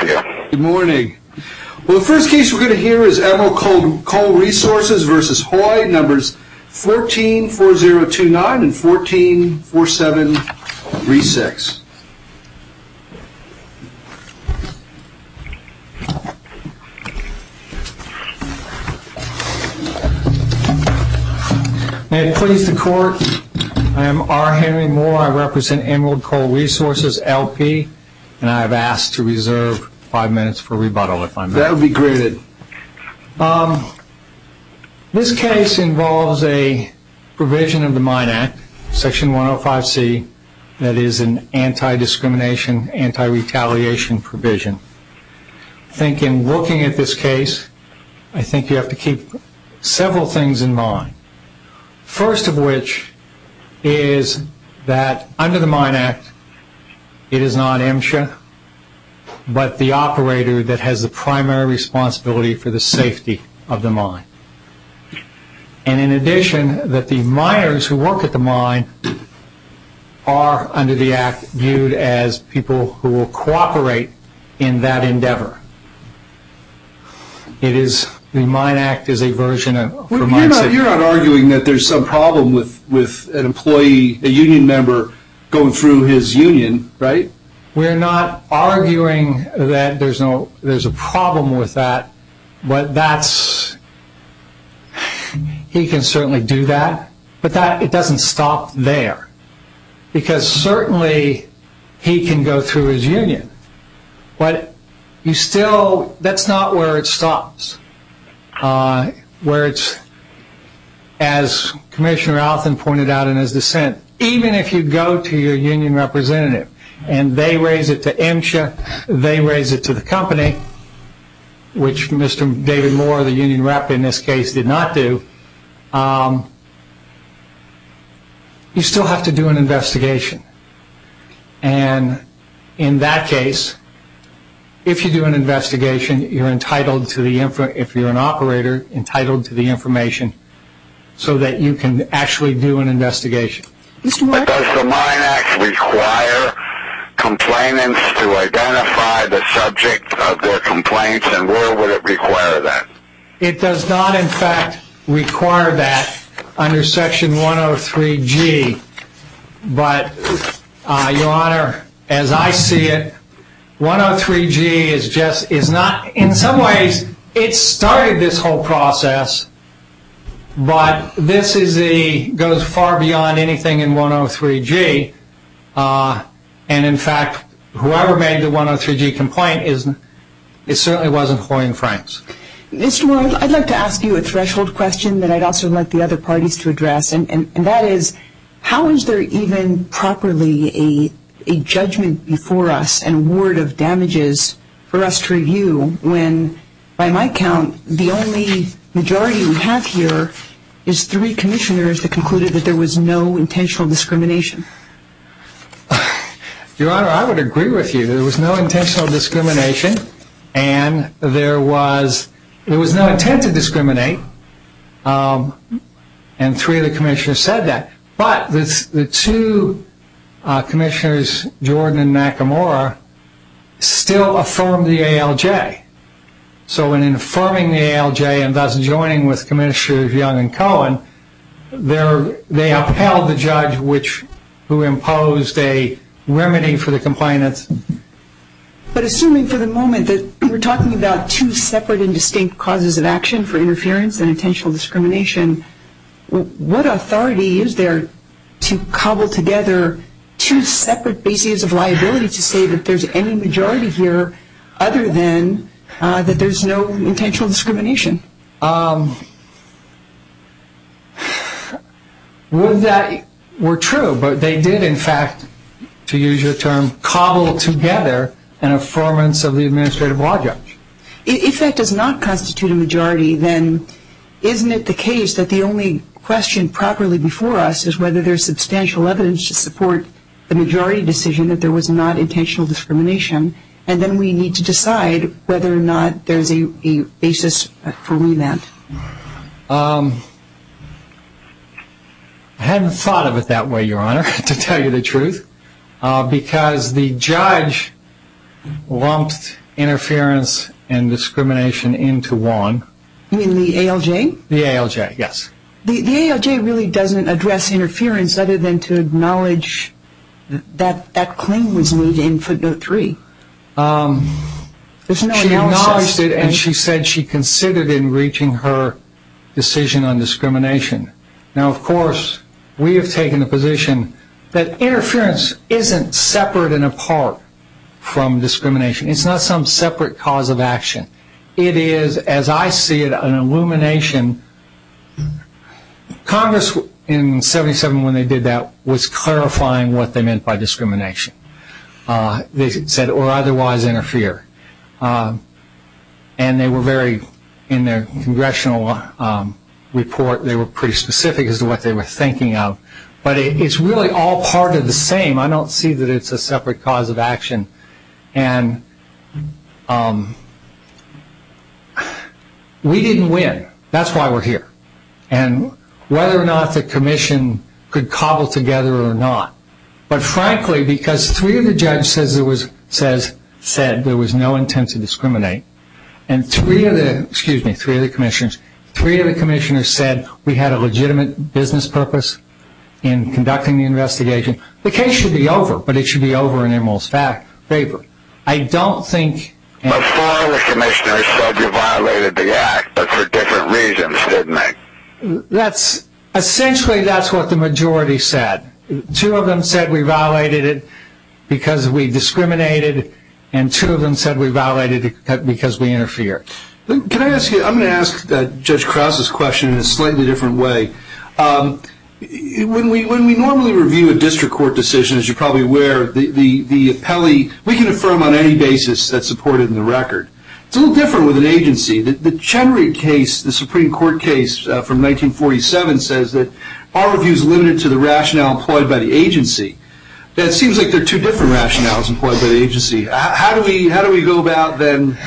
Good morning. The first case we're going to hear is Emerald Coal Resources v. Hoy, numbers 14-4029 and 14-4736. May it please the court, I am R. Henry Moore, I represent Emerald Coal Resources, LP, and I have asked to reserve five minutes for rebuttal if I may. That would be great. This case involves a provision of the Mine Act, section 105C, that is an anti-discrimination, anti-retaliation provision. I think in looking at this case, I think you have to keep several things in mind. First of which is that under the Mine Act, it is not MSHA, but the operator that has the primary responsibility for the safety of the mine. And in addition, that the miners who work at the mine are under the act viewed as people who will cooperate in that endeavor. The Mine Act is a version of... You're not arguing that there's some problem with an employee, a union member, going through his union, right? We're not arguing that there's a problem with that, but that's... He can certainly do that, but it doesn't stop there. Because certainly he can go through his union, but you still... That's not where it stops. Where it's... As Commissioner Althon pointed out in his dissent, even if you go to your union representative and they raise it to MSHA, they raise it to the company, which Mr. David Moore, the union rep in this case, did not do, you still have to do an investigation. And in that case, if you do an investigation, you're entitled to the... If you're an operator, entitled to the information so that you can actually do an investigation. But does the Mine Act require complainants to identify the subject of their complaints, and where would it require that? It does not, in fact, require that under Section 103G. But, Your Honor, as I see it, 103G is just... In some ways, it started this whole process, but this goes far beyond anything in 103G. And, in fact, whoever made the 103G complaint, it certainly wasn't Floyd and Franks. Mr. Moore, I'd like to ask you a threshold question that I'd also like the other parties to address, and that is, how is there even properly a judgment before us and word of damages for us to review when, by my count, the only majority we have here is three commissioners that concluded that there was no intentional discrimination? Your Honor, I would agree with you. There was no intentional discrimination, and there was no intent to discriminate, and three of the commissioners said that. But the two commissioners, Jordan and Nakamura, still affirmed the ALJ. So in affirming the ALJ and thus joining with Commissioners Young and Cohen, they upheld the judge who imposed a remedy for the complainants. But assuming for the moment that we're talking about two separate and distinct causes of action for interference and intentional discrimination, what authority is there to cobble together two separate bases of liability to say that there's any majority here other than that there's no intentional discrimination? Would that were true, but they did, in fact, to use your term, cobble together an affirmance of the administrative law judge. If that does not constitute a majority, then isn't it the case that the only question properly before us is whether there's substantial evidence to support the majority decision that there was not intentional discrimination, and then we need to decide whether or not there's a basis for remand? I hadn't thought of it that way, Your Honor, to tell you the truth, because the judge lumped interference and discrimination into one. You mean the ALJ? The ALJ, yes. The ALJ really doesn't address interference other than to acknowledge that claim was made in footnote three. She acknowledged it and she said she considered in reaching her decision on discrimination. Now, of course, we have taken the position that interference isn't separate and apart from discrimination. It's not some separate cause of action. It is, as I see it, an illumination. Congress, in 77 when they did that, was clarifying what they meant by discrimination. They said, or otherwise interfere. And they were very, in their congressional report, they were pretty specific as to what they were thinking of. But it's really all part of the same. I don't see that it's a separate cause of action. And we didn't win. That's why we're here. And whether or not the commission could cobble together or not, but frankly because three of the judges said there was no intent to discriminate and three of the commissioners said we had a legitimate business purpose in conducting the investigation. The case should be over, but it should be over in Emerald's favor. I don't think... Before the commissioners said we violated the act, but for different reasons, didn't they? Essentially, that's what the majority said. Two of them said we violated it because we discriminated and two of them said we violated it because we interfered. Can I ask you, I'm going to ask Judge Krause's question in a slightly different way. When we normally review a district court decision, as you're probably aware, the appellee, we can affirm on any basis that's supported in the record. It's a little different with an agency. The Chenry case, the Supreme Court case from 1947, says that our review is limited to the rationale employed by the agency. It seems like there are two different rationales employed by the agency. How do we go about then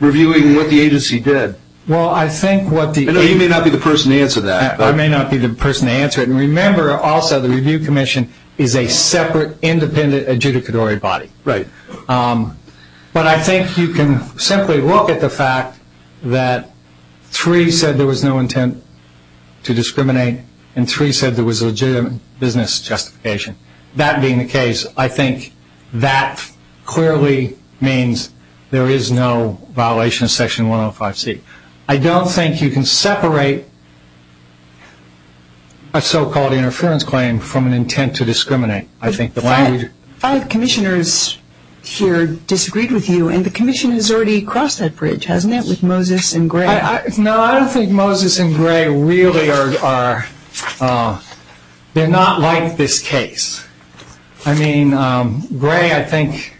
reviewing what the agency did? You may not be the person to answer that. I may not be the person to answer it. Remember also the review commission is a separate independent adjudicatory body. But I think you can simply look at the fact that three said there was no intent to discriminate and three said there was a legitimate business justification. That being the case, I think that clearly means there is no violation of Section 105C. I don't think you can separate a so-called interference claim from an intent to discriminate. Five commissioners here disagreed with you and the commission has already crossed that bridge, hasn't it, with Moses and Gray? No, I don't think Moses and Gray really are. They're not like this case. I mean, Gray, I think,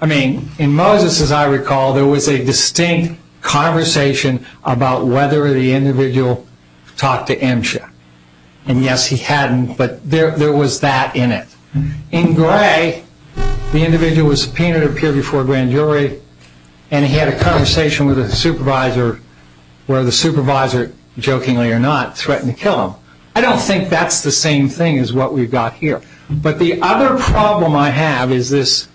I mean, in Moses, as I recall, there was a distinct conversation about whether the individual talked to MSHA. And yes, he hadn't, but there was that in it. In Gray, the individual was subpoenaed or appeared before a grand jury and he had a conversation with a supervisor where the supervisor, jokingly or not, threatened to kill him. I don't think that's the same thing as what we've got here. But the other problem I have is this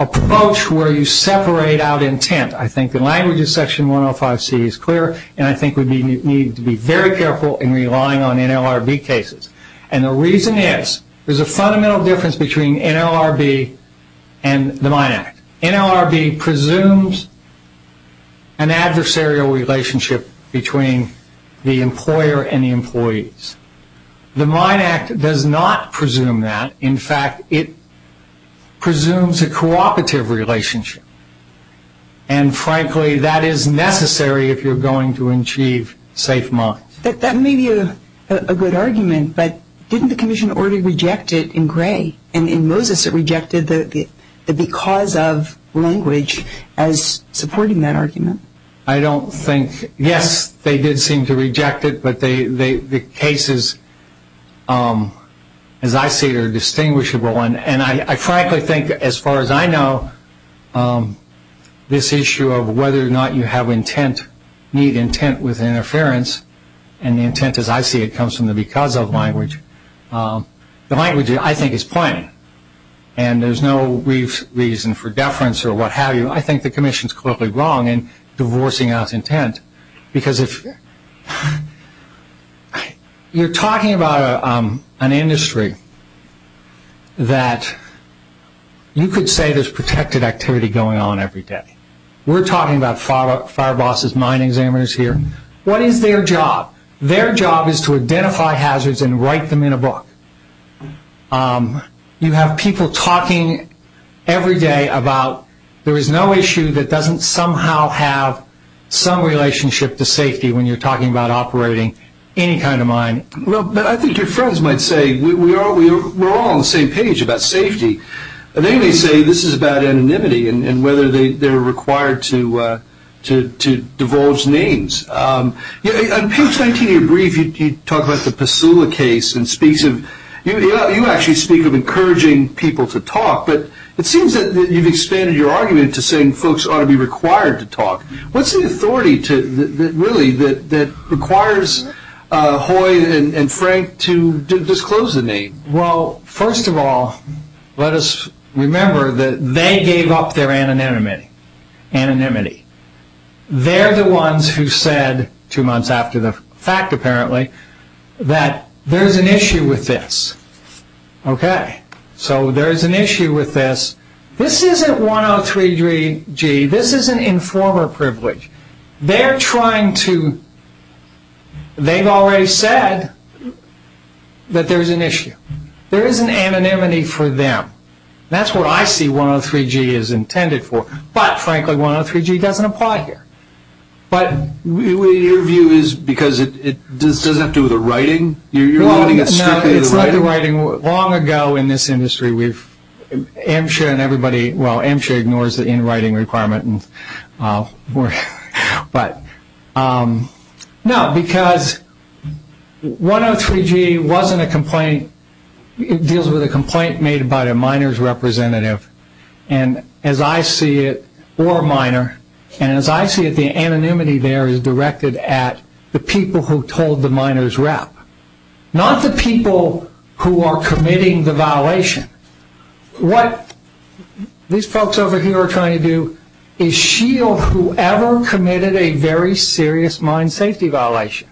approach where you separate out intent. I think the language of Section 105C is clear and I think we need to be very careful in relying on NLRB cases. And the reason is there's a fundamental difference between NLRB and the Mine Act. NLRB presumes an adversarial relationship between the employer and the employees. The Mine Act does not presume that. In fact, it presumes a cooperative relationship. And frankly, that is necessary if you're going to achieve safe mines. That may be a good argument, but didn't the Commission already reject it in Gray? In Moses, it rejected the because of language as supporting that argument. I don't think, yes, they did seem to reject it, but the cases, as I see it, are distinguishable. I frankly think, as far as I know, this issue of whether or not you have intent, need intent with interference, and the intent, as I see it, comes from the because of language. The language, I think, is plain and there's no reason for deference or what have you. I think the Commission is clearly wrong in divorcing out intent. You're talking about an industry that you could say there's protected activity going on every day. We're talking about fire bosses, mine examiners here. What is their job? Their job is to identify hazards and write them in a book. You have people talking every day about there is no issue that doesn't somehow have some relationship to safety when you're talking about operating any kind of mine. Well, I think your friends might say we're all on the same page about safety. They may say this is about anonymity and whether they're required to divulge names. On page 19 of your brief, you talk about the Pasula case. You actually speak of encouraging people to talk, but it seems that you've expanded your argument to saying folks ought to be required to talk. What's the authority, really, that requires Hoy and Frank to disclose the name? Well, first of all, let us remember that they gave up their anonymity. They're the ones who said two months after the fact, apparently, that there's an issue with this. So there's an issue with this. This isn't 103G. This is an informer privilege. They've already said that there's an issue. There is an anonymity for them. That's what I see 103G is intended for. But, frankly, 103G doesn't apply here. But your view is because it doesn't have to do with the writing? You're limiting it strictly to the writing. No, it's not the writing. Long ago in this industry, AMCHA and everybody, well, AMCHA ignores the in-writing requirement. No, because 103G wasn't a complaint. It deals with a complaint made by the miners' representative. And as I see it, or a miner, and as I see it, the anonymity there is directed at the people who told the miners' rep, not the people who are committing the violation. What these folks over here are trying to do is shield whoever committed a very serious mine safety violation.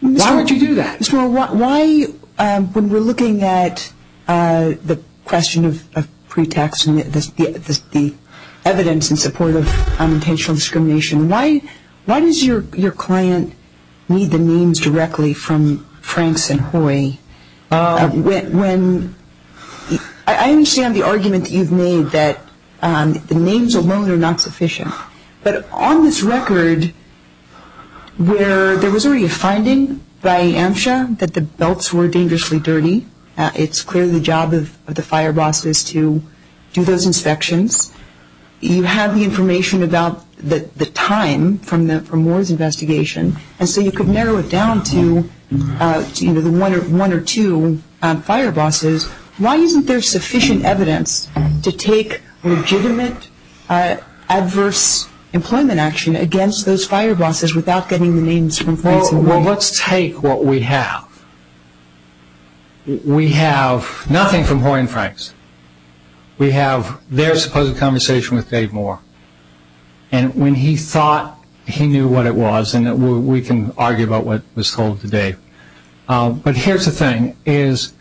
Why would you do that? Ms. Moore, why, when we're looking at the question of pretax, the evidence in support of unintentional discrimination, why does your client need the names directly from Franks and Hoy? I understand the argument that you've made that the names alone are not sufficient. But on this record, where there was already a finding by AMCHA that the belts were dangerously dirty, it's clearly the job of the fire bosses to do those inspections. You have the information about the time from Moore's investigation, and so you could narrow it down to one or two fire bosses. Why isn't there sufficient evidence to take legitimate adverse employment action against those fire bosses without getting the names from Franks and Hoy? Well, let's take what we have. We have nothing from Moore and Franks. We have their supposed conversation with Dave Moore. And when he thought he knew what it was, and we can argue about what was told to Dave, but here's the thing, is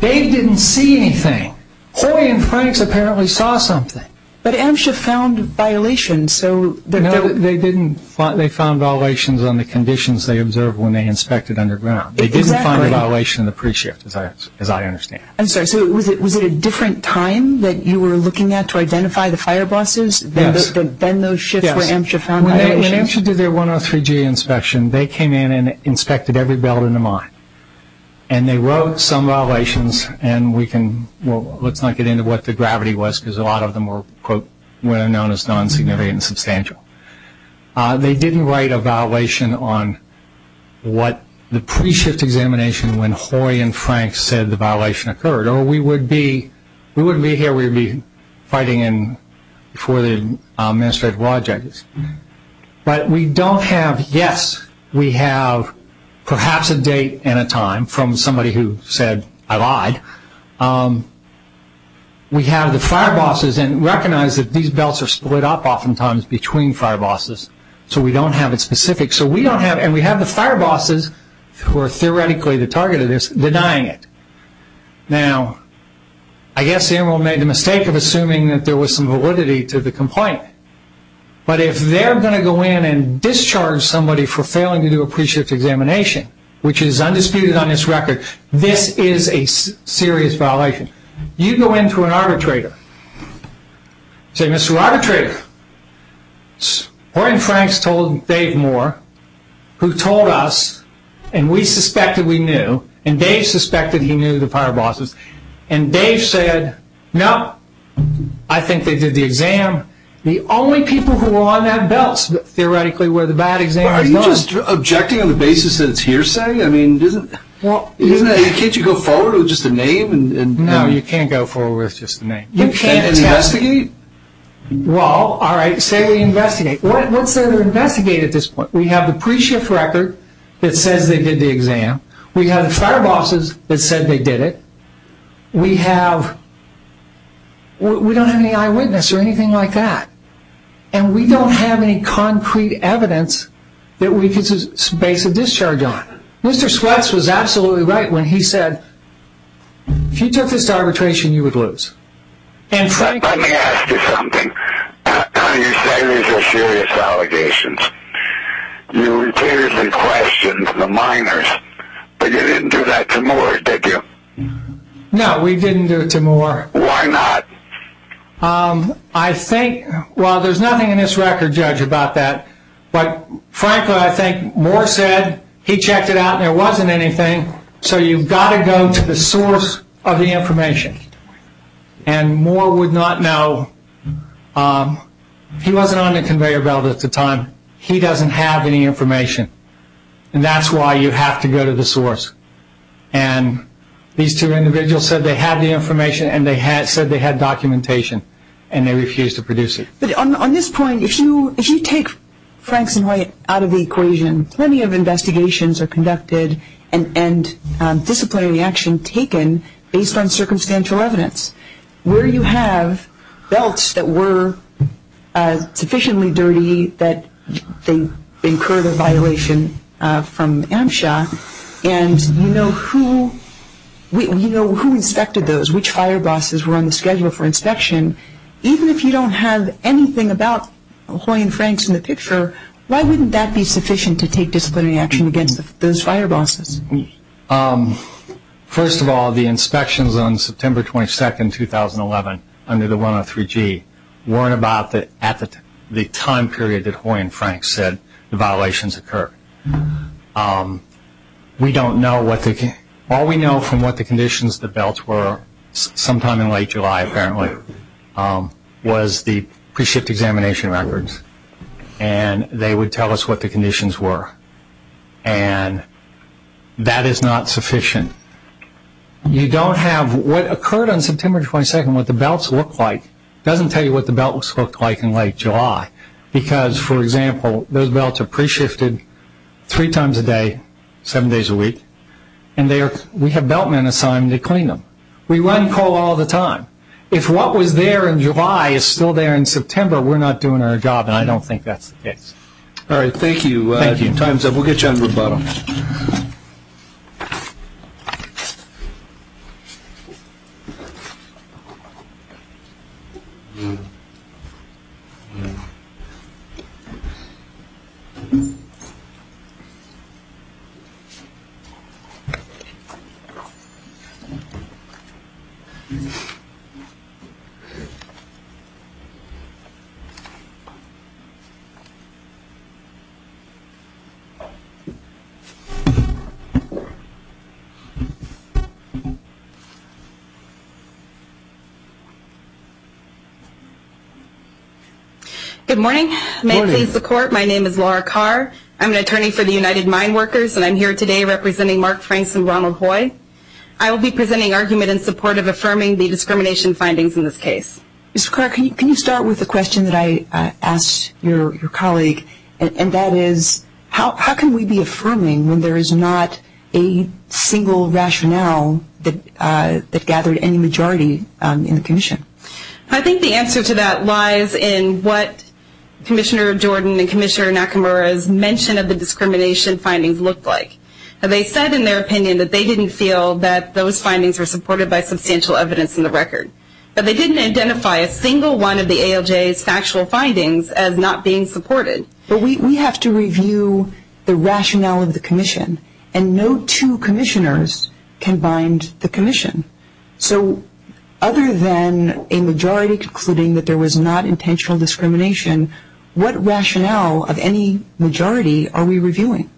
Dave didn't see anything. Hoy and Franks apparently saw something. But AMCHA found violations. No, they found violations on the conditions they observed when they inspected underground. They didn't find a violation in the pre-shift, as I understand it. I'm sorry, so was it a different time that you were looking at to identify the fire bosses? Yes. Then those shifts where AMCHA found violations? When AMCHA did their 103G inspection, they came in and inspected every belt in the mine. And they wrote some violations, and we can, well, let's not get into what the gravity was because a lot of them were, quote, were known as non-significant and substantial. They didn't write a violation on what the pre-shift examination when Hoy and Franks said the violation occurred. We wouldn't be here. We would be fighting before the administrative law judges. But we don't have, yes, we have perhaps a date and a time from somebody who said I lied. We have the fire bosses, and recognize that these belts are split up oftentimes between fire bosses, so we don't have it specific. So we don't have, and we have the fire bosses who are theoretically the target of this denying it. Now, I guess the admiral made the mistake of assuming that there was some validity to the complaint. But if they're going to go in and discharge somebody for failing to do a pre-shift examination, which is undisputed on this record, this is a serious violation. You go in to an arbitrator, say, Mr. Arbitrator, Hoy and Franks told Dave Moore, who told us, and we suspected we knew, and Dave suspected he knew the fire bosses, and Dave said, no, I think they did the exam. The only people who were on that belt, theoretically, were the bad examiners. Are you just objecting on the basis that it's hearsay? Can't you go forward with just a name? No, you can't go forward with just a name. You can't investigate? Well, all right, say we investigate. What's there to investigate at this point? We have the pre-shift record that says they did the exam. We have the fire bosses that said they did it. We don't have any eyewitness or anything like that. And we don't have any concrete evidence that we can base a discharge on. Mr. Sweats was absolutely right when he said, if you took this to arbitration, you would lose. Let me ask you something. You say these are serious allegations. You repeatedly questioned the minors, but you didn't do that to Moore, did you? No, we didn't do it to Moore. Why not? I think, well, there's nothing in this record, Judge, about that. But, frankly, I think Moore said he checked it out and there wasn't anything. So you've got to go to the source of the information. And Moore would not know. He wasn't on the conveyor belt at the time. He doesn't have any information. And that's why you have to go to the source. And these two individuals said they had the information and they said they had documentation and they refused to produce it. But on this point, if you take Franks and White out of the equation, plenty of investigations are conducted and disciplinary action taken based on circumstantial evidence. Where you have belts that were sufficiently dirty that they incurred a violation from AMSHA and you know who inspected those, which fire bosses were on the schedule for inspection. Even if you don't have anything about Hoy and Franks in the picture, why wouldn't that be sufficient to take disciplinary action against those fire bosses? First of all, the inspections on September 22, 2011, under the 103G, weren't about the time period that Hoy and Franks said the violations occurred. All we know from what the conditions of the belts were, sometime in late July apparently, was the pre-shipped examination records. And they would tell us what the conditions were. And that is not sufficient. You don't have what occurred on September 22, what the belts looked like. It doesn't tell you what the belts looked like in late July. Because, for example, those belts are pre-shifted three times a day, seven days a week, and we have beltmen assigned to clean them. We run coal all the time. If what was there in July is still there in September, we're not doing our job, and I don't think that's the case. All right, thank you. Time's up. We'll get you on to the bottom. Good morning. Good morning. May it please the Court, my name is Laura Carr. I'm an attorney for the United Mine Workers, and I'm here today representing Mark Franks and Ronald Hoy. I will be presenting argument in support of affirming the discrimination findings in this case. Ms. Carr, can you start with the question that I asked your colleague, and then I'll turn it over to you. Sure. And that is, how can we be affirming when there is not a single rationale that gathered any majority in the commission? I think the answer to that lies in what Commissioner Jordan and Commissioner Nakamura's mention of the discrimination findings looked like. They said in their opinion that they didn't feel that those findings were supported by substantial evidence in the record. They didn't identify a single one of the ALJ's factual findings as not being supported. But we have to review the rationale of the commission, and no two commissioners can bind the commission. So other than a majority concluding that there was not intentional discrimination, what rationale of any majority are we reviewing?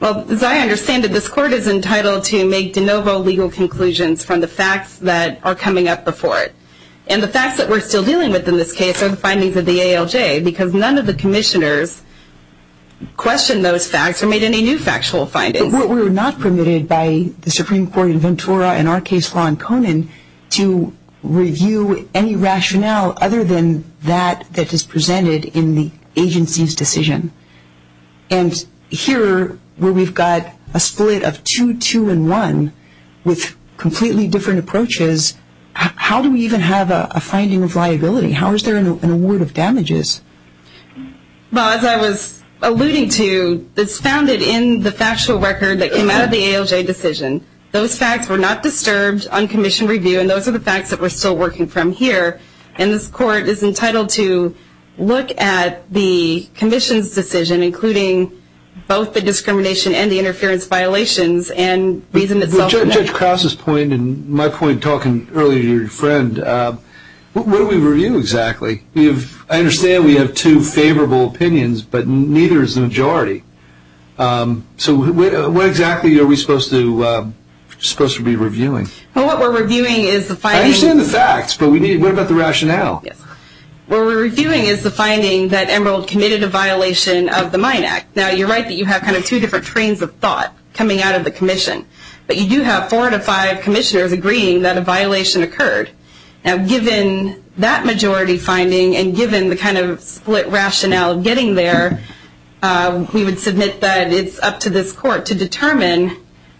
Well, as I understand it, this Court is entitled to make de novo legal conclusions from the facts that are coming up before it. And the facts that we're still dealing with in this case are the findings of the ALJ, because none of the commissioners questioned those facts or made any new factual findings. But we're not permitted by the Supreme Court in Ventura and our case law in Conan to review any rationale other than that that is presented in the agency's decision. And here where we've got a split of 2-2-1 with completely different approaches, how is there an award of damages? Well, as I was alluding to, it's founded in the factual record that came out of the ALJ decision. Those facts were not disturbed on commission review, and those are the facts that we're still working from here. And this Court is entitled to look at the commission's decision, including both the discrimination and the interference violations and reason itself. Judge Krause's point and my point talking earlier to your friend, what do we review exactly? I understand we have two favorable opinions, but neither is the majority. So what exactly are we supposed to be reviewing? Well, what we're reviewing is the findings. I understand the facts, but what about the rationale? What we're reviewing is the finding that Emerald committed a violation of the Mine Act. Now, you're right that you have kind of two different trains of thought coming out of the commission, but you do have four to five commissioners agreeing that a violation occurred. Now, given that majority finding and given the kind of split rationale of getting there, we would submit that it's up to this Court to determine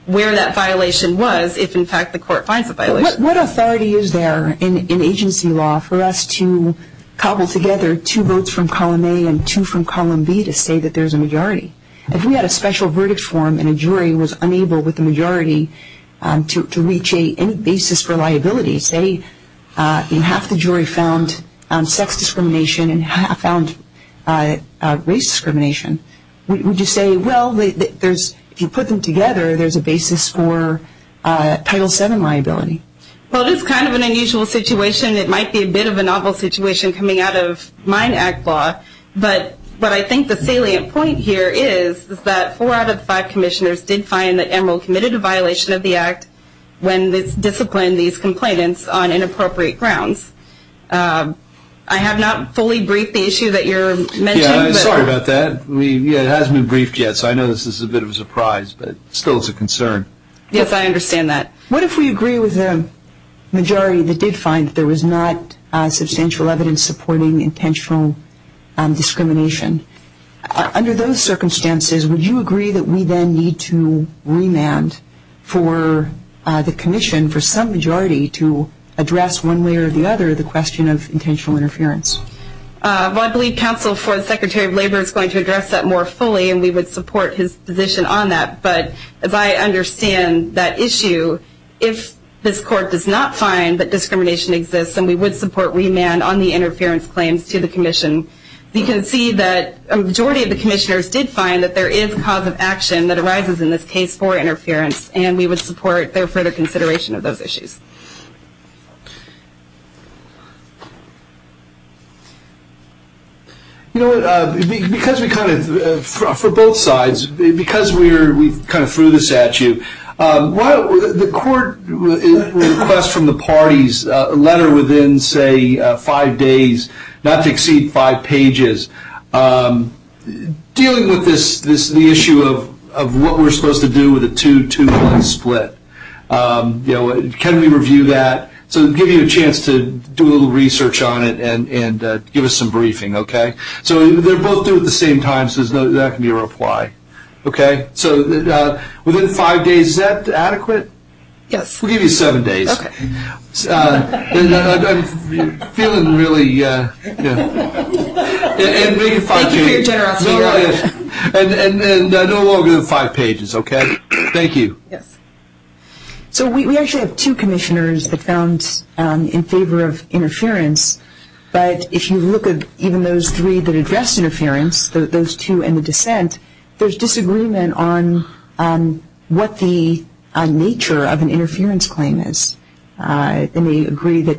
where that violation was if, in fact, the Court finds a violation. What authority is there in agency law for us to cobble together two votes from column A and two from column B to say that there's a majority? If we had a special verdict form and a jury was unable with the majority to reach any basis for liability, say half the jury found sex discrimination and half found race discrimination, would you say, well, if you put them together, there's a basis for Title VII liability? Well, this is kind of an unusual situation. It might be a bit of a novel situation coming out of Mine Act law, but what I think the salient point here is that four out of five commissioners did find that Emerald committed a violation of the Act when it's disciplined these complainants on inappropriate grounds. I have not fully briefed the issue that you're mentioning. Yeah, I'm sorry about that. It hasn't been briefed yet, so I know this is a bit of a surprise, but still it's a concern. Yes, I understand that. What if we agree with a majority that did find that there was not substantial evidence supporting intentional discrimination? Under those circumstances, would you agree that we then need to remand for the commission for some majority to address one way or the other the question of intentional interference? Well, I believe counsel for the Secretary of Labor is going to address that more fully, and we would support his position on that. But as I understand that issue, if this court does not find that discrimination exists and we would support remand on the interference claims to the commission, we can see that a majority of the commissioners did find that there is cause of action that arises in this case for interference, and we would support their further consideration of those issues. Thank you. You know what, for both sides, because we kind of threw this at you, the court requests from the parties a letter within, say, five days, not to exceed five pages, dealing with the issue of what we're supposed to do with a 2-2-1 split. You know, can we review that? So to give you a chance to do a little research on it and give us some briefing, okay? So they're both due at the same time, so that can be a reply, okay? So within five days, is that adequate? Yes. We'll give you seven days. Okay. And I'm feeling really, you know, and maybe five pages. Thank you for your generosity. And no longer than five pages, okay? Thank you. Yes. So we actually have two commissioners that found in favor of interference, but if you look at even those three that addressed interference, those two and the dissent, there's disagreement on what the nature of an interference claim is. They may agree that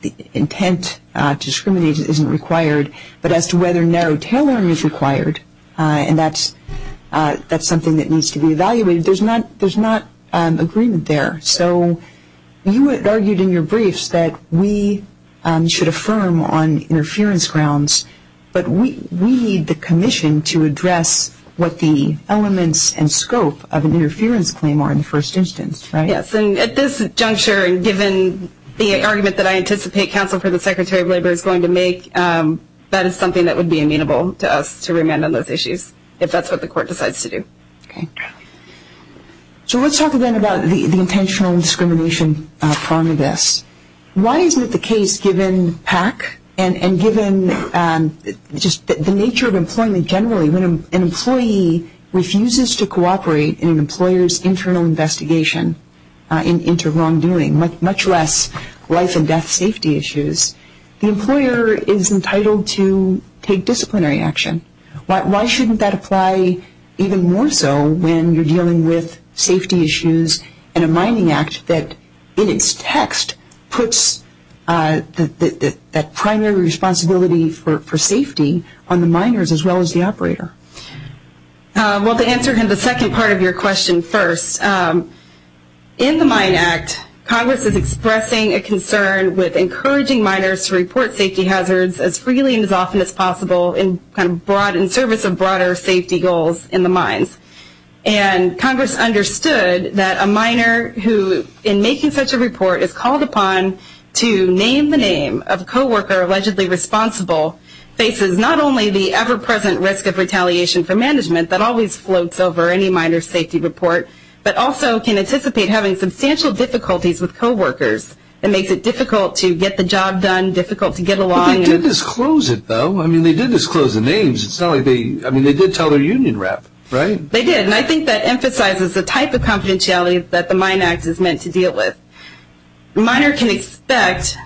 the intent to discriminate isn't required, but as to whether narrow tailoring is required, and that's something that needs to be evaluated, there's not agreement there. So you had argued in your briefs that we should affirm on interference grounds, but we need the commission to address what the elements and scope of an interference claim are in the first instance, right? Yes, and at this juncture, given the argument that I anticipate counsel for the Secretary of Labor is going to make, that is something that would be amenable to us to remand on those issues, if that's what the court decides to do. Okay. So let's talk again about the intentional discrimination prong of this. Why isn't it the case, given PAC and given just the nature of employment generally, when an employee refuses to cooperate in an employer's internal investigation into wrongdoing, much less life and death safety issues, the employer is entitled to take disciplinary action. Why shouldn't that apply even more so when you're dealing with safety issues and a mining act that, in its text, puts that primary responsibility for safety on the miners as well as the operator? Well, to answer the second part of your question first, in the Mine Act, Congress is expressing a concern with encouraging miners to report safety hazards as freely and as often as possible in service of broader safety goals in the mines. And Congress understood that a miner who, in making such a report, is called upon to name the name of a coworker allegedly responsible faces not only the ever-present risk of retaliation from management that always floats over any miner's safety report, but also can anticipate having substantial difficulties with coworkers. It makes it difficult to get the job done, difficult to get along. But they did disclose it, though. I mean, they did disclose the names. I mean, they did tell their union rep, right? They did. And I think that emphasizes the type of confidentiality that the Mine Act is meant to deal with. A miner can expect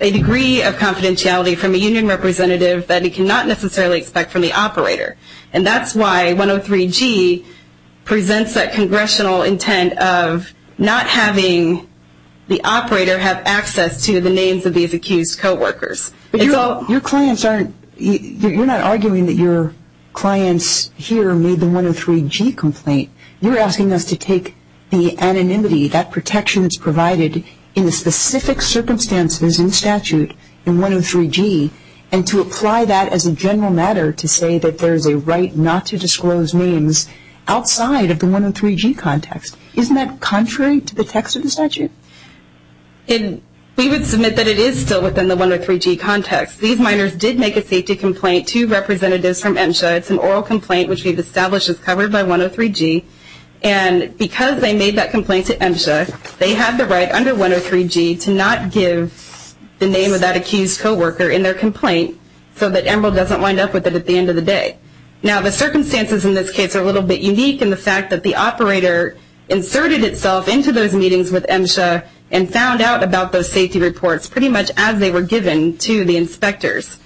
a degree of confidentiality from a union representative that he cannot necessarily expect from the operator. And that's why 103G presents that congressional intent of not having the operator have access to the names of these accused coworkers. You're not arguing that your clients here made the 103G complaint. You're asking us to take the anonymity, that protection that's provided in the specific circumstances in statute in 103G, and to apply that as a general matter to say that there is a right not to disclose names outside of the 103G context. Isn't that contrary to the text of the statute? We would submit that it is still within the 103G context. These miners did make a safety complaint to representatives from MSHA. It's an oral complaint, which we've established is covered by 103G. And because they made that complaint to MSHA, they have the right under 103G to not give the name of that accused coworker in their complaint so that Emeril doesn't wind up with it at the end of the day. Now, the circumstances in this case are a little bit unique in the fact that the operator inserted itself into those meetings with MSHA and found out about those safety reports pretty much as they were given to the inspectors.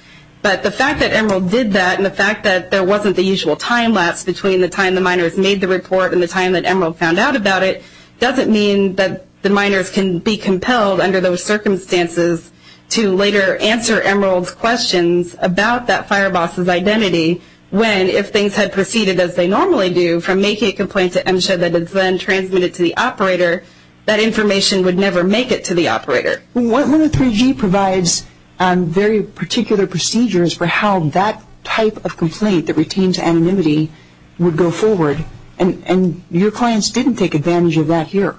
But the fact that Emeril did that and the fact that there wasn't the usual time lapse between the time the miners made the report and the time that Emeril found out about it doesn't mean that the miners can be compelled under those circumstances to later answer Emeril's questions about that fire boss's identity when if things had proceeded as they normally do from making a complaint to MSHA that is then transmitted to the operator, that information would never make it to the operator. Well, 103G provides very particular procedures for how that type of complaint that retains anonymity would go forward. And your clients didn't take advantage of that here,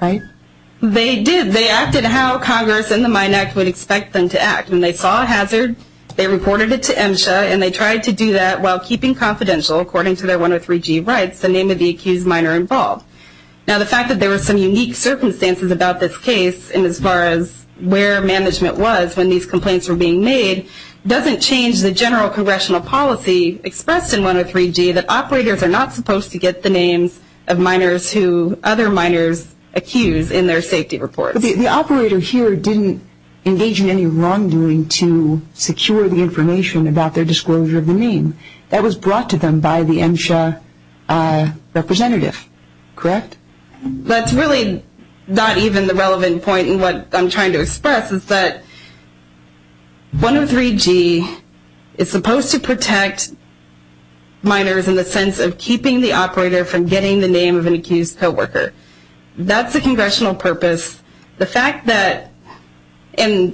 right? They did. They acted how Congress and the Mine Act would expect them to act. When they saw a hazard, they reported it to MSHA, and they tried to do that while keeping confidential according to their 103G rights, the name of the accused miner involved. Now, the fact that there were some unique circumstances about this case and as far as where management was when these complaints were being made doesn't change the general congressional policy expressed in 103G that operators are not supposed to get the names of miners who other miners accuse in their safety reports. The operator here didn't engage in any wrongdoing to secure the information about their disclosure of the name. That was brought to them by the MSHA representative, correct? That's really not even the relevant point in what I'm trying to express is that 103G is supposed to protect miners in the sense of keeping the operator from getting the name of an accused co-worker. That's the congressional purpose. The fact that it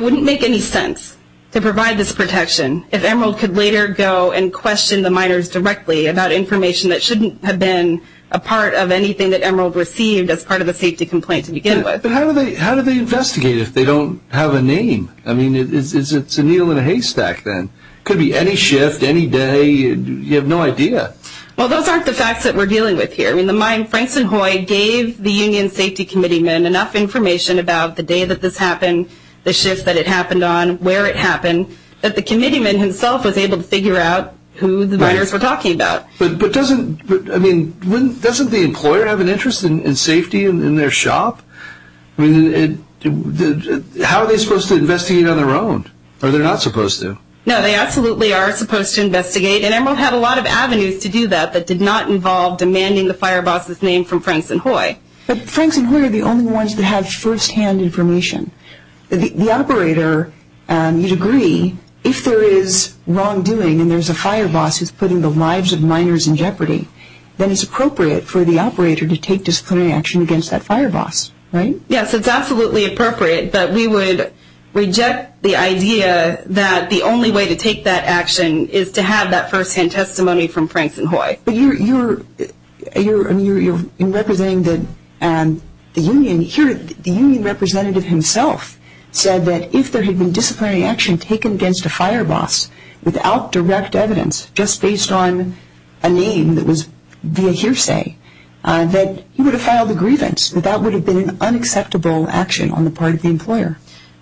wouldn't make any sense to provide this protection if Emerald could later go and question the miners directly about information that shouldn't have been a part of anything that Emerald received as part of a safety complaint to begin with. But how do they investigate if they don't have a name? I mean, it's a needle in a haystack then. It could be any shift, any day. You have no idea. Well, those aren't the facts that we're dealing with here. I mean, the mine, Franks and Hoy gave the union safety committeeman enough information about the day that this happened, the shift that it happened on, where it happened, that the committeeman himself was able to figure out who the miners were talking about. But doesn't the employer have an interest in safety in their shop? I mean, how are they supposed to investigate on their own? Or they're not supposed to? No, they absolutely are supposed to investigate. And Emerald had a lot of avenues to do that that did not involve demanding the fire boss's name from Franks and Hoy. But Franks and Hoy are the only ones that have firsthand information. The operator, you'd agree, if there is wrongdoing and there's a fire boss who's putting the lives of miners in jeopardy, then it's appropriate for the operator to take disciplinary action against that fire boss, right? Yes, it's absolutely appropriate. But we would reject the idea that the only way to take that action is to have that firsthand testimony from Franks and Hoy. But you're representing the union. The union representative himself said that if there had been disciplinary action taken against a fire boss without direct evidence, just based on a name that was via hearsay, that he would have filed a grievance, that that would have been an unacceptable action on the part of the employer.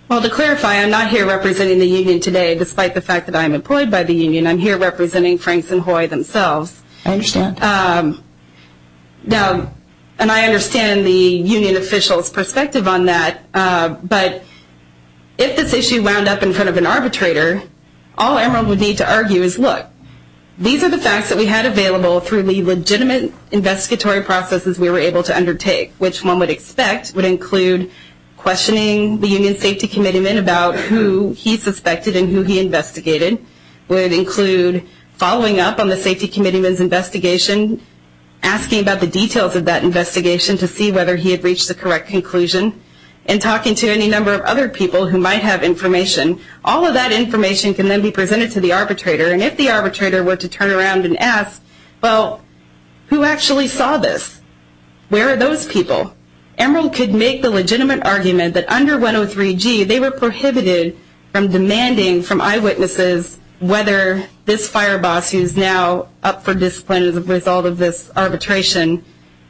Well, to clarify, I'm not here representing the union today, despite the fact that I'm employed by the union. I'm here representing Franks and Hoy themselves. I understand. And I understand the union official's perspective on that. But if this issue wound up in front of an arbitrator, all Emerald would need to argue is, look, these are the facts that we had available through the legitimate investigatory processes we were able to undertake, which one would expect would include questioning the union safety committeeman about who he suspected and who he investigated, would include following up on the safety committeeman's investigation, asking about the details of that investigation to see whether he had reached the correct conclusion, and talking to any number of other people who might have information. All of that information can then be presented to the arbitrator, and if the arbitrator were to turn around and ask, well, who actually saw this? Where are those people? Emerald could make the legitimate argument that under 103G, they were prohibited from demanding from eyewitnesses whether this fire boss, who's now up for discipline as a result of this arbitration,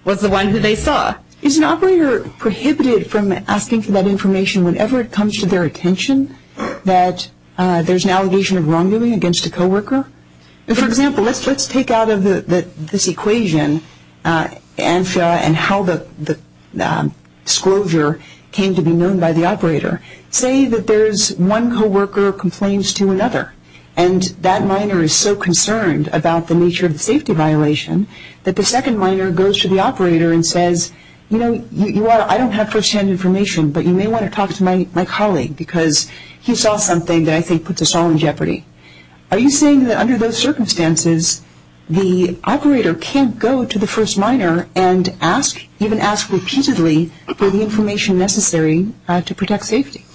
was the one who they saw. Is an operator prohibited from asking for that information whenever it comes to their attention, that there's an allegation of wrongdoing against a co-worker? For example, let's take out of this equation and how the disclosure came to be known by the operator. Say that there's one co-worker who complains to another, and that minor is so concerned about the nature of the safety violation that the second minor goes to the operator and says, you know, I don't have firsthand information, but you may want to talk to my colleague, because he saw something that I think puts us all in jeopardy. Are you saying that under those circumstances, the operator can't go to the first minor and ask, even ask repeatedly, for the information necessary to protect safety?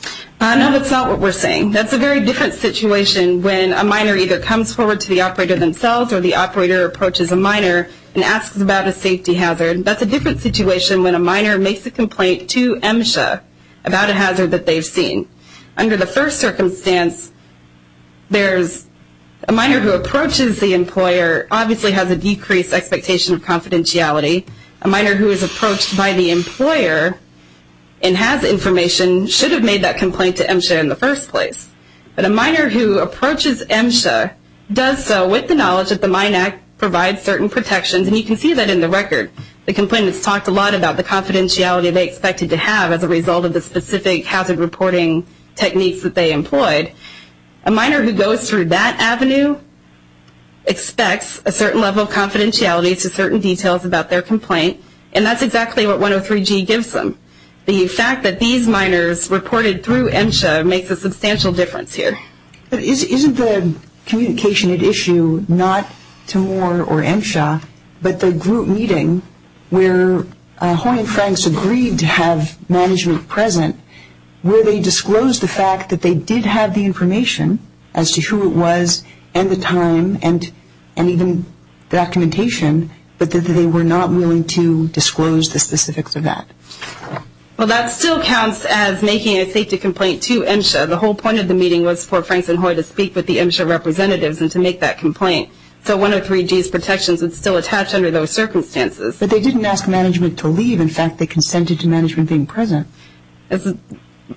No, that's not what we're saying. That's a very different situation when a minor either comes forward to the operator themselves or the operator approaches a minor and asks about a safety hazard. That's a different situation when a minor makes a complaint to MSHA about a hazard that they've seen. Under the first circumstance, there's a minor who approaches the employer, obviously has a decreased expectation of confidentiality. A minor who is approached by the employer and has information should have made that complaint to MSHA in the first place. But a minor who approaches MSHA does so with the knowledge that the Mine Act provides certain protections, and you can see that in the record. The complainants talked a lot about the confidentiality they expected to have as a result of the specific hazard reporting techniques that they employed. A minor who goes through that avenue expects a certain level of confidentiality to certain details about their complaint, and that's exactly what 103G gives them. The fact that these minors reported through MSHA makes a substantial difference here. Isn't the communication at issue not to Moore or MSHA, but the group meeting where Hoy and Franks agreed to have management present where they disclosed the fact that they did have the information as to who it was and the time and even documentation, but that they were not willing to disclose the specifics of that? Well, that still counts as making a safety complaint to MSHA. The whole point of the meeting was for Franks and Hoy to speak with the MSHA representatives and to make that complaint. So 103G's protections would still attach under those circumstances. But they didn't ask management to leave. In fact, they consented to management being present.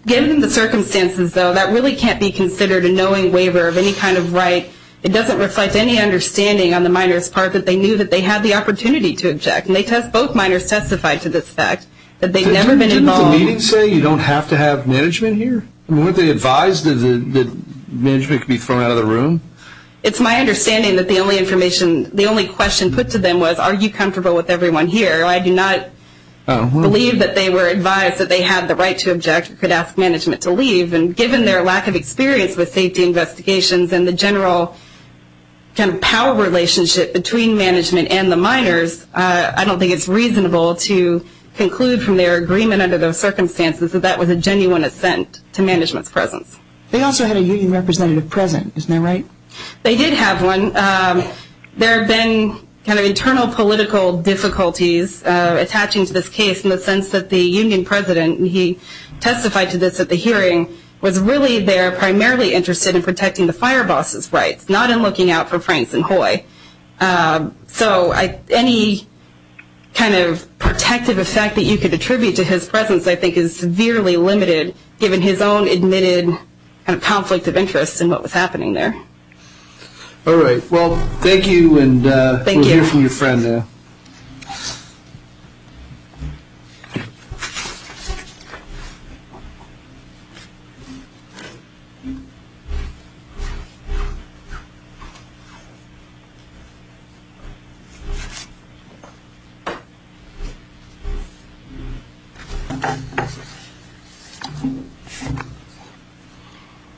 Given the circumstances, though, that really can't be considered a knowing waiver of any kind of right. It doesn't reflect any understanding on the minor's part that they knew that they had the opportunity to object. And both minors testified to this fact that they'd never been involved. Didn't the meeting say you don't have to have management here? Weren't they advised that management could be thrown out of the room? It's my understanding that the only question put to them was, are you comfortable with everyone here? I do not believe that they were advised that they had the right to object or could ask management to leave. And given their lack of experience with safety investigations and the general kind of power relationship between management and the minors, I don't think it's reasonable to conclude from their agreement under those circumstances that that was a genuine assent to management's presence. They also had a union representative present, isn't that right? They did have one. There have been kind of internal political difficulties attaching to this case in the sense that the union president, he testified to this at the hearing, was really there primarily interested in protecting the fire boss's rights, not in looking out for Franks and Hoy. So any kind of protective effect that you could attribute to his presence, I think, is severely limited given his own admitted conflict of interest in what was happening there. All right. Well, thank you. Thank you. Let's hear from your friend now.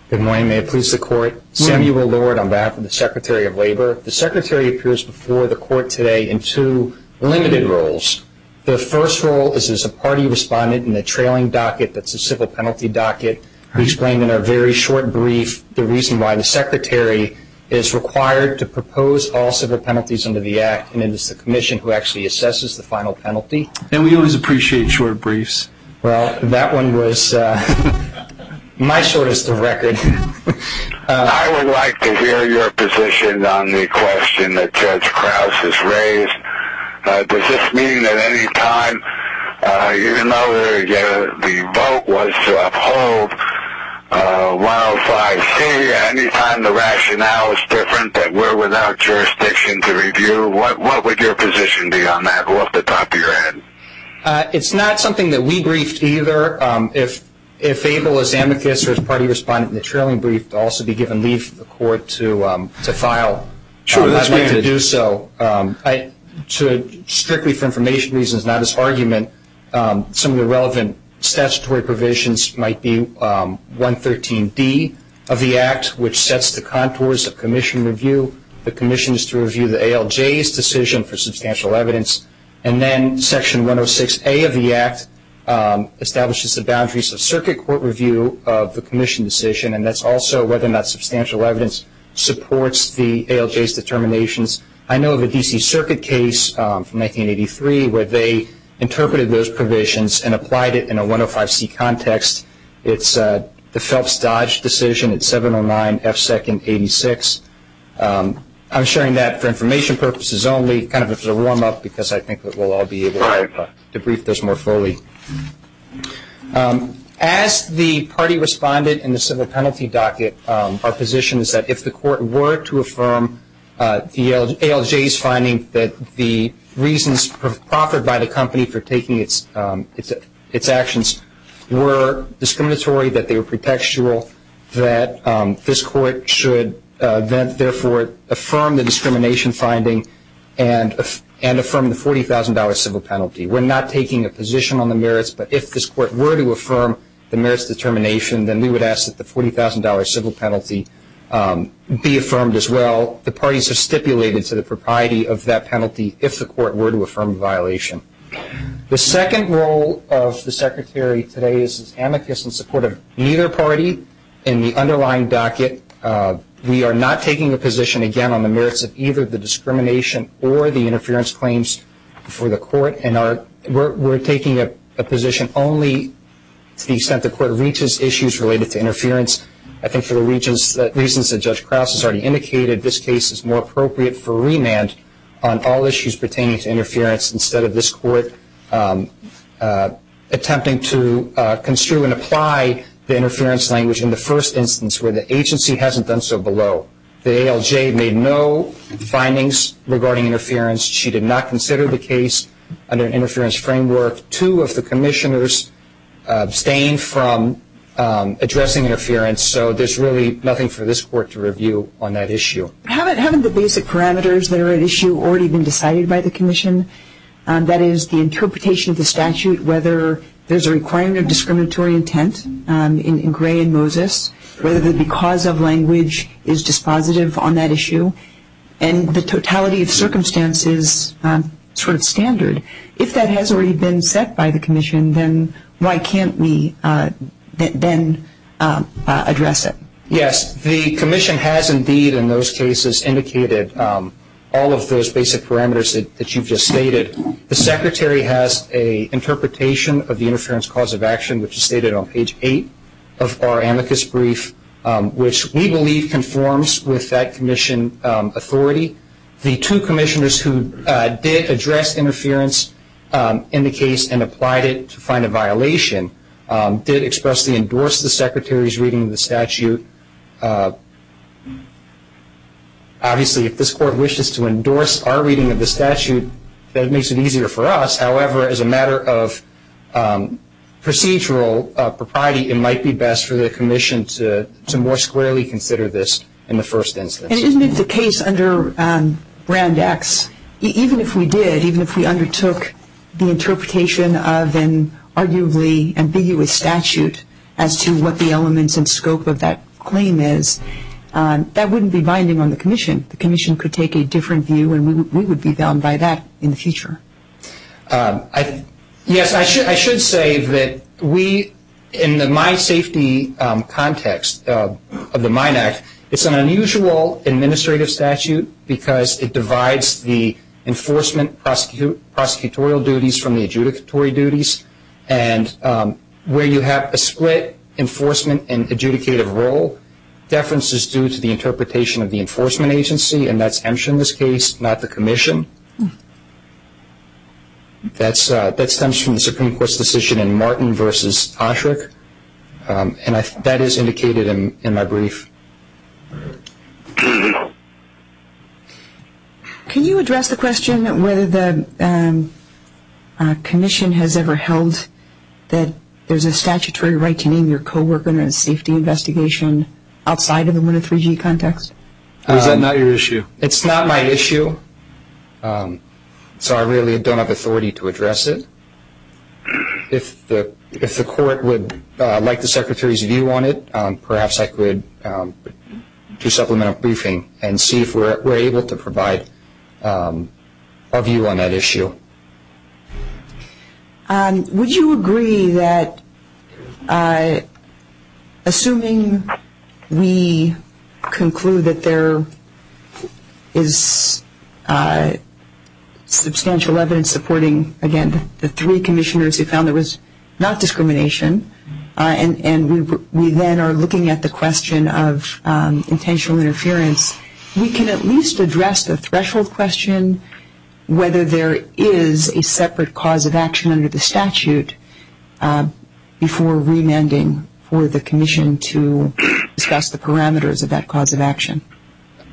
Good morning. May it please the Court. Samuel Lord on behalf of the Secretary of Labor. The Secretary appears before the Court today in two limited roles. The first role is as a party respondent in the trailing docket that's a civil penalty docket. We explained in our very short brief the reason why the Secretary is required to propose all civil penalties under the Act, and it is the Commission who actually assesses the final penalty. And we always appreciate short briefs. Well, that one was my shortest of record. I would like to hear your position on the question that Judge Krause has raised. Does this mean that any time, even though the vote was to uphold 105C, any time the rationale is different that we're without jurisdiction to review, what would your position be on that off the top of your head? It's not something that we briefed either. If able, as amicus, or as party respondent in the trailing brief, to also be given leave for the Court to file, I would like to do so. Strictly for information reasons, not as argument, some of the relevant statutory provisions might be 113D of the Act, which sets the contours of Commission review. The Commission is to review the ALJ's decision for substantial evidence. And then Section 106A of the Act establishes the boundaries of circuit court review of the Commission decision, and that's also whether or not substantial evidence supports the ALJ's determinations. I know of a D.C. Circuit case from 1983 where they interpreted those provisions and applied it in a 105C context. It's the Phelps-Dodge decision at 709F2-86. I'm sharing that for information purposes only, kind of as a warm-up because I think we'll all be able to brief this more fully. As the party respondent in the civil penalty docket, our position is that if the Court were to affirm the ALJ's finding that the reasons proffered by the company for taking its actions were discriminatory, that they were pretextual, that this Court should therefore affirm the discrimination finding and affirm the $40,000 civil penalty. We're not taking a position on the merits, but if this Court were to affirm the merits determination, then we would ask that the $40,000 civil penalty be affirmed as well. The parties have stipulated to the propriety of that penalty if the Court were to affirm the violation. The second role of the Secretary today is as amicus in support of neither party in the underlying docket. We are not taking a position, again, on the merits of either the discrimination or the interference claims before the Court. We're taking a position only to the extent the Court reaches issues related to interference. I think for the reasons that Judge Krause has already indicated, this case is more appropriate for remand on all issues pertaining to interference instead of this Court attempting to construe and apply the interference language in the first instance where the agency hasn't done so below. The ALJ made no findings regarding interference. She did not consider the case under an interference framework. Two of the commissioners abstained from addressing interference, so there's really nothing for this Court to review on that issue. Haven't the basic parameters that are at issue already been decided by the commission? That is, the interpretation of the statute, whether there's a requirement of discriminatory intent in Gray and Moses, whether the because of language is dispositive on that issue, and the totality of circumstances sort of standard. If that has already been set by the commission, then why can't we then address it? Yes, the commission has indeed in those cases indicated all of those basic parameters that you've just stated. The Secretary has an interpretation of the interference cause of action, which is stated on page 8 of our amicus brief, which we believe conforms with that commission authority. The two commissioners who did address interference in the case and applied it to find a violation did expressly endorse the Secretary's reading of the statute. Obviously, if this Court wishes to endorse our reading of the statute, that makes it easier for us. However, as a matter of procedural propriety, it might be best for the commission to more squarely consider this in the first instance. And isn't it the case under Brand X, even if we did, even if we undertook the interpretation of an arguably ambiguous statute as to what the elements and scope of that claim is, that wouldn't be binding on the commission. The commission could take a different view, and we would be bound by that in the future. Yes, I should say that we, in the mine safety context of the Mine Act, it's an unusual administrative statute because it divides the enforcement prosecutorial duties from the adjudicatory duties. And where you have a split enforcement and adjudicative role, deference is due to the interpretation of the enforcement agency, and that's Emsh in this case, not the commission. That stems from the Supreme Court's decision in Martin v. Osherick, and that is indicated in my brief. Can you address the question whether the commission has ever held that there's a statutory right to name your co-worker in a safety investigation outside of the MWNA 3G context? Is that not your issue? It's not my issue, so I really don't have authority to address it. If the court would like the Secretary's view on it, perhaps I could do supplemental briefing and see if we're able to provide a view on that issue. Would you agree that assuming we conclude that there is substantial evidence supporting, again, the three commissioners who found there was not discrimination, and we then are looking at the question of intentional interference, we can at least address the threshold question whether there is a separate cause of action under the statute before remanding for the commission to discuss the parameters of that cause of action?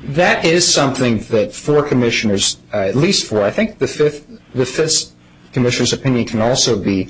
That is something that four commissioners, at least four, I think the fifth commissioner's opinion can also be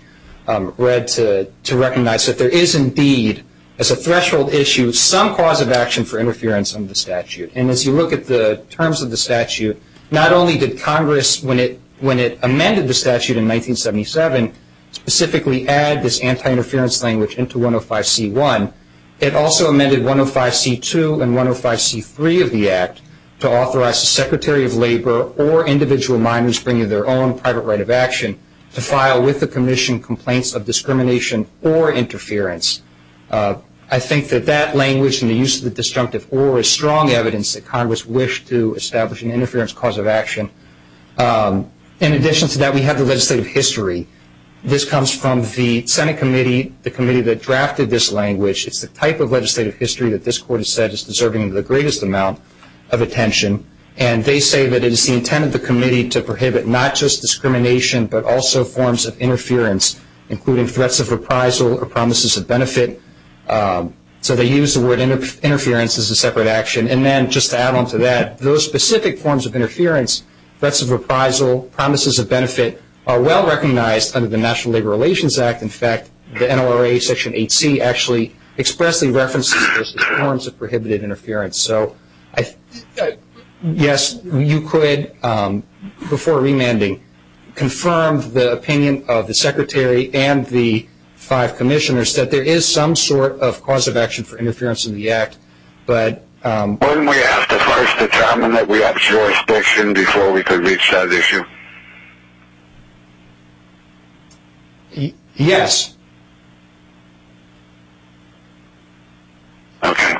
read to recognize that there is indeed, as a threshold issue, some cause of action for interference under the statute. And as you look at the terms of the statute, not only did Congress, when it amended the statute in 1977, specifically add this anti-interference language into 105C1, it also amended 105C2 and 105C3 of the Act to authorize the Secretary of Labor or individual minors bringing their own private right of action to file with the commission complaints of discrimination or interference. I think that that language and the use of the disjunctive or is strong evidence that Congress wished to establish an interference cause of action. In addition to that, we have the legislative history. This comes from the Senate committee, the committee that drafted this language. It's the type of legislative history that this Court has said is deserving of the greatest amount of attention, and they say that it is the intent of the committee to prohibit not just discrimination but also forms of interference, including threats of reprisal or promises of benefit. So they use the word interference as a separate action. And then just to add on to that, those specific forms of interference, threats of reprisal, promises of benefit, are well recognized under the National Labor Relations Act. In fact, the NLRA Section 8C actually expressly references those forms of prohibited interference. So, yes, you could, before remanding, confirm the opinion of the Secretary and the five commissioners that there is some sort of cause of action for interference in the act. Wouldn't we have to first determine that we have jurisdiction before we could reach that issue? Yes. Okay.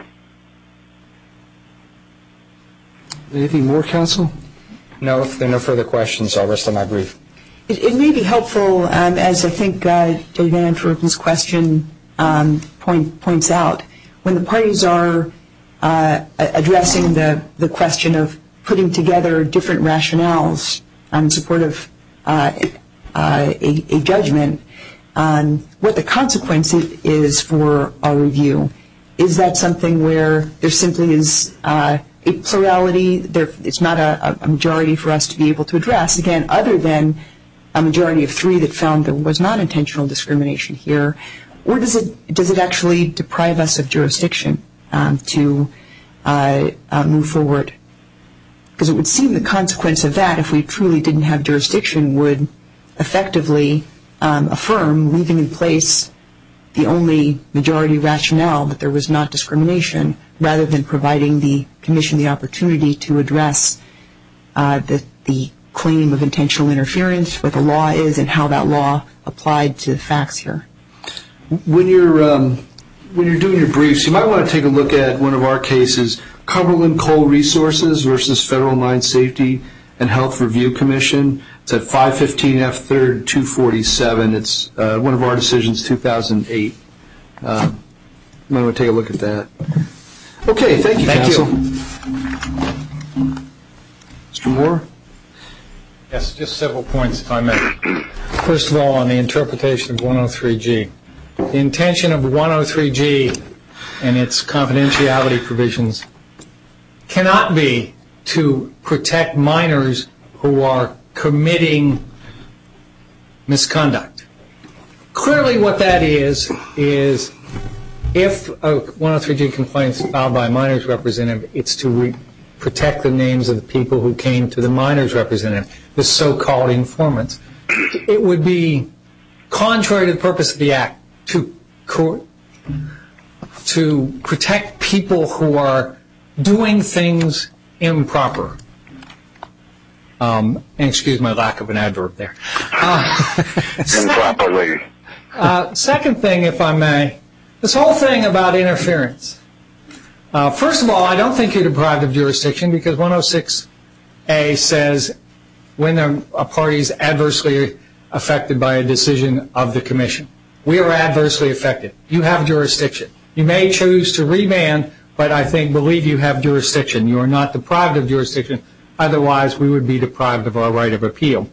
Anything more, counsel? No, if there are no further questions, I'll rest on my brief. It may be helpful, as I think Dave Andrews's question points out, when the parties are addressing the question of putting together different rationales in support of a judgment, what the consequence is for our review. Is that something where there simply is a plurality, it's not a majority for us to be able to address, again, other than a majority of three that found there was non-intentional discrimination here? Or does it actually deprive us of jurisdiction to move forward? Because it would seem the consequence of that, if we truly didn't have jurisdiction, would effectively affirm leaving in place the only majority rationale that there was not discrimination, rather than providing the commission the opportunity to address the claim of intentional interference, what the law is and how that law applied to the facts here. When you're doing your briefs, you might want to take a look at one of our cases, Cumberland Coal Resources versus Federal Mine Safety and Health Review Commission. It's at 515 F. 3rd, 247. It's one of our decisions, 2008. You might want to take a look at that. Okay, thank you, counsel. Thank you. Mr. Moore? Yes, just several points if I may. First of all, on the interpretation of 103G. The intention of 103G and its confidentiality provisions cannot be to protect minors who are committing misconduct. Clearly what that is, is if a 103G complaint is filed by a minors representative, it's to protect the names of the people who came to the minors representative, the so-called informants. It would be contrary to the purpose of the act to protect people who are doing things improper. Excuse my lack of an adverb there. Improperly. Second thing, if I may, this whole thing about interference. First of all, I don't think you're deprived of jurisdiction, because 106A says when a party is adversely affected by a decision of the commission. We are adversely affected. You have jurisdiction. You may choose to remand, but I believe you have jurisdiction. You are not deprived of jurisdiction. Otherwise, we would be deprived of our right of appeal.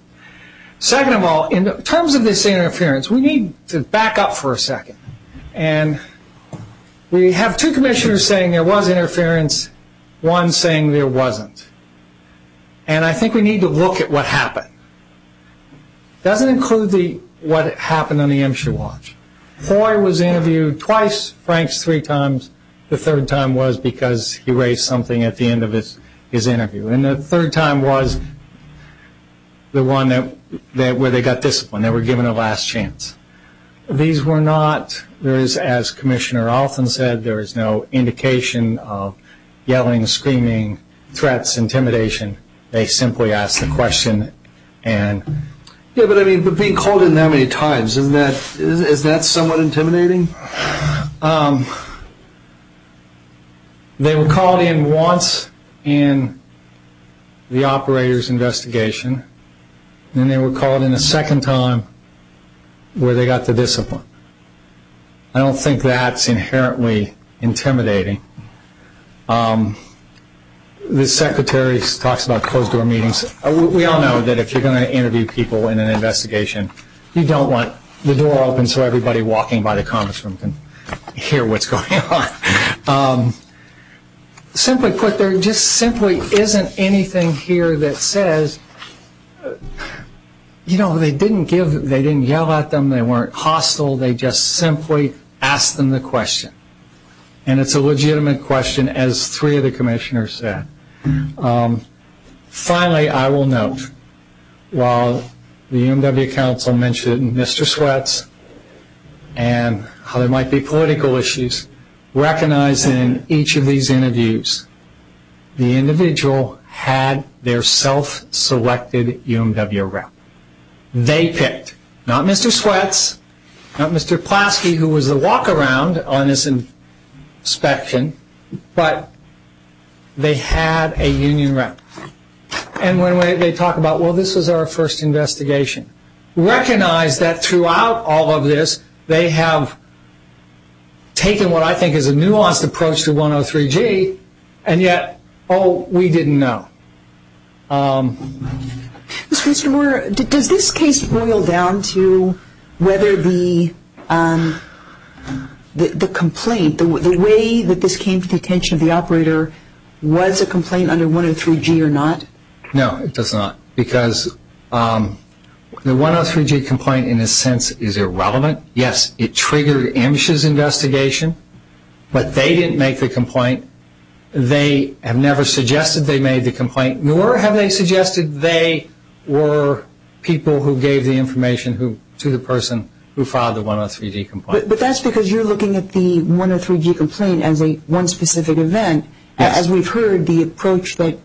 Second of all, in terms of this interference, we need to back up for a second. We have two commissioners saying there was interference. One saying there wasn't. And I think we need to look at what happened. It doesn't include what happened on the Imsha watch. Hoy was interviewed twice, Franks three times. The third time was because he raised something at the end of his interview. And the third time was the one where they got disciplined. They were given a last chance. These were not, as Commissioner Alston said, there is no indication of yelling, screaming, threats, intimidation. They simply asked the question. Yeah, but being called in that many times, is that somewhat intimidating? They were called in once in the operator's investigation. Then they were called in a second time where they got the discipline. I don't think that's inherently intimidating. The Secretary talks about closed-door meetings. We all know that if you're going to interview people in an investigation, you don't want the door open so everybody walking by the conference room can hear what's going on. Simply put, there just simply isn't anything here that says, you know, they didn't give, they didn't yell at them, they weren't hostile, they just simply asked them the question. And it's a legitimate question, as three of the commissioners said. Finally, I will note, while the UMW Council mentioned Mr. Sweat's and how there might be political issues, recognized in each of these interviews, the individual had their self-selected UMW rep. They picked, not Mr. Sweat's, not Mr. Plasky, who was the walk-around on this inspection, but they had a union rep. And when they talk about, well, this was our first investigation, recognize that throughout all of this, they have taken what I think is a nuanced approach to 103G, and yet, oh, we didn't know. Ms. Finster-Moore, does this case boil down to whether the complaint, the way that this came to the attention of the operator, was a complaint under 103G or not? No, it does not, because the 103G complaint, in a sense, is irrelevant. Yes, it triggered Amish's investigation, but they didn't make the complaint. They have never suggested they made the complaint, nor have they suggested they were people who gave the information to the person who filed the 103G complaint. But that's because you're looking at the 103G complaint as one specific event. As we've heard, the approach that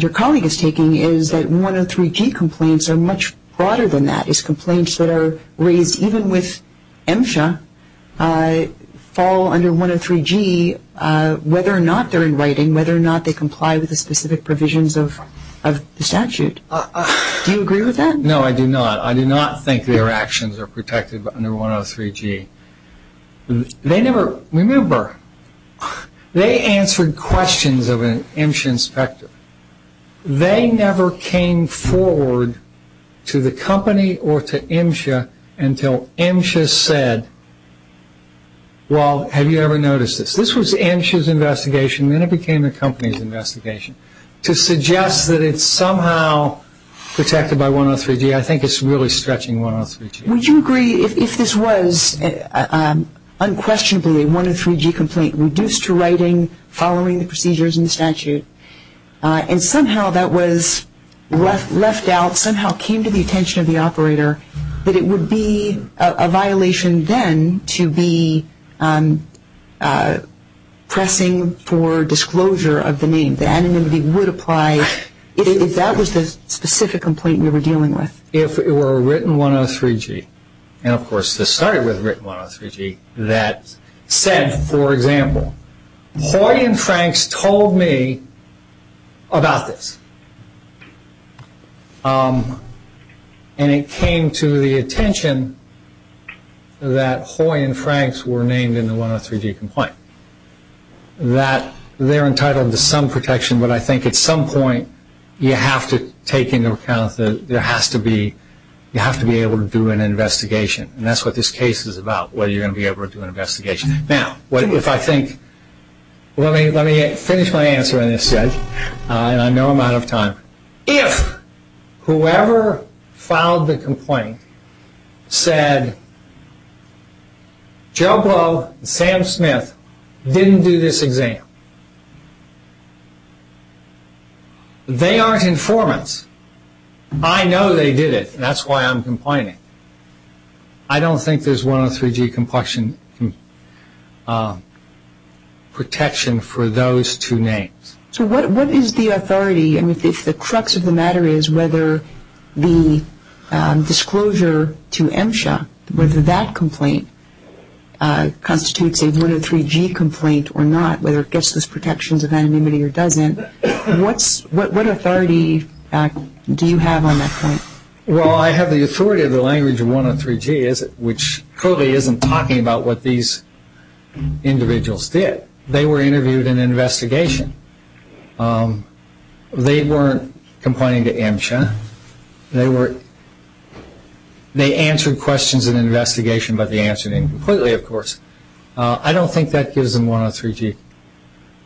your colleague is taking is that 103G complaints are much broader than that. It's complaints that are raised, even with MSHA, fall under 103G, whether or not they're in writing, whether or not they comply with the specific provisions of the statute. Do you agree with that? No, I do not. I do not think their actions are protected under 103G. Remember, they answered questions of an MSHA inspector. They never came forward to the company or to MSHA until MSHA said, well, have you ever noticed this? This was MSHA's investigation, then it became the company's investigation. To suggest that it's somehow protected by 103G, I think it's really stretching 103G. Would you agree if this was unquestionably a 103G complaint, reduced to writing, following the procedures in the statute, and somehow that was left out, somehow came to the attention of the operator, that it would be a violation then to be pressing for disclosure of the name, that anonymity would apply if that was the specific complaint we were dealing with? If it were a written 103G, and of course this started with a written 103G, that said, for example, Hoy and Franks told me about this, and it came to the attention that Hoy and Franks were named in the 103G complaint, that they're entitled to some protection, but I think at some point you have to take into account that you have to be able to do an investigation, and that's what this case is about, whether you're going to be able to do an investigation. Let me finish my answer on this, and I know I'm out of time. If whoever filed the complaint said Joe Blow and Sam Smith didn't do this exam, they aren't informants. I know they did it, and that's why I'm complaining. I don't think there's 103G protection for those two names. So what is the authority, if the crux of the matter is whether the disclosure to MSHA, whether that complaint constitutes a 103G complaint or not, whether it gets those protections of anonymity or doesn't, what authority do you have on that point? Well, I have the authority of the language of 103G, which clearly isn't talking about what these individuals did. They were interviewed in an investigation. They weren't complaining to MSHA. They answered questions in an investigation by the answering completely, of course. I don't think that gives them 103G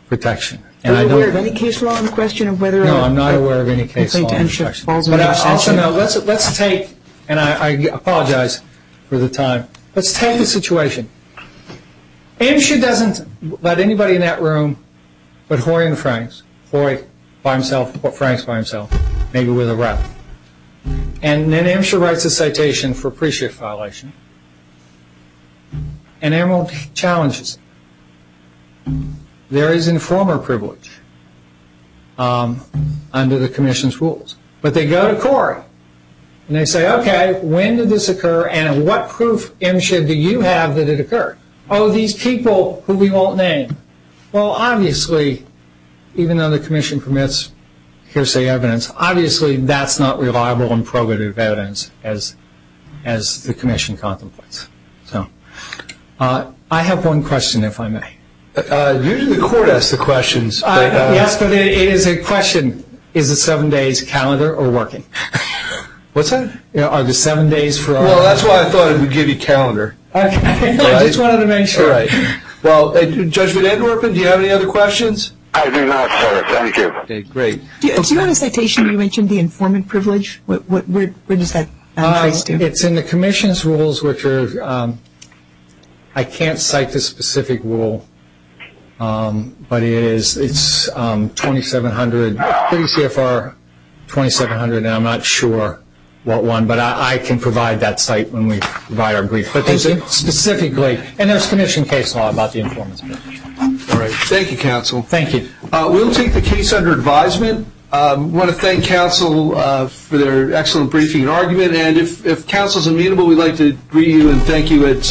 protection. Are you aware of any case law in question? No, I'm not aware of any case law in question. Let's take, and I apologize for the time, let's take the situation. MSHA doesn't let anybody in that room but Horry and Franks. Horry by himself, Franks by himself, maybe with a rep. And then MSHA writes a citation for pre-shift violation. Emerald challenges it. There is informer privilege under the commission's rules. But they go to Horry and they say, okay, when did this occur and what proof MSHA do you have that it occurred? Oh, these people who we won't name. Well, obviously, even though the commission permits hearsay evidence, obviously that's not reliable and probative evidence as the commission contemplates. I have one question, if I may. Usually the court asks the questions. Yes, but it is a question, is the seven days calendar or working? What's that? Are the seven days for? Well, that's why I thought it would give you calendar. I just wanted to make sure. All right. Well, Judge VanAnderwerpen, do you have any other questions? I do not, sir. Thank you. Okay, great. Do you have a citation you mentioned, the informant privilege? Where does that trace to? It's in the commission's rules, which are, I can't cite the specific rule, but it's 2700, pretty clear for 2700, and I'm not sure what one, but I can provide that site when we provide our brief. Specifically, and there's commission case law about the informant's privilege. Thank you, counsel. Thank you. We'll take the case under advisement. I want to thank counsel for their excellent briefing and argument, and if counsel is amenable, we'd like to greet you and thank you.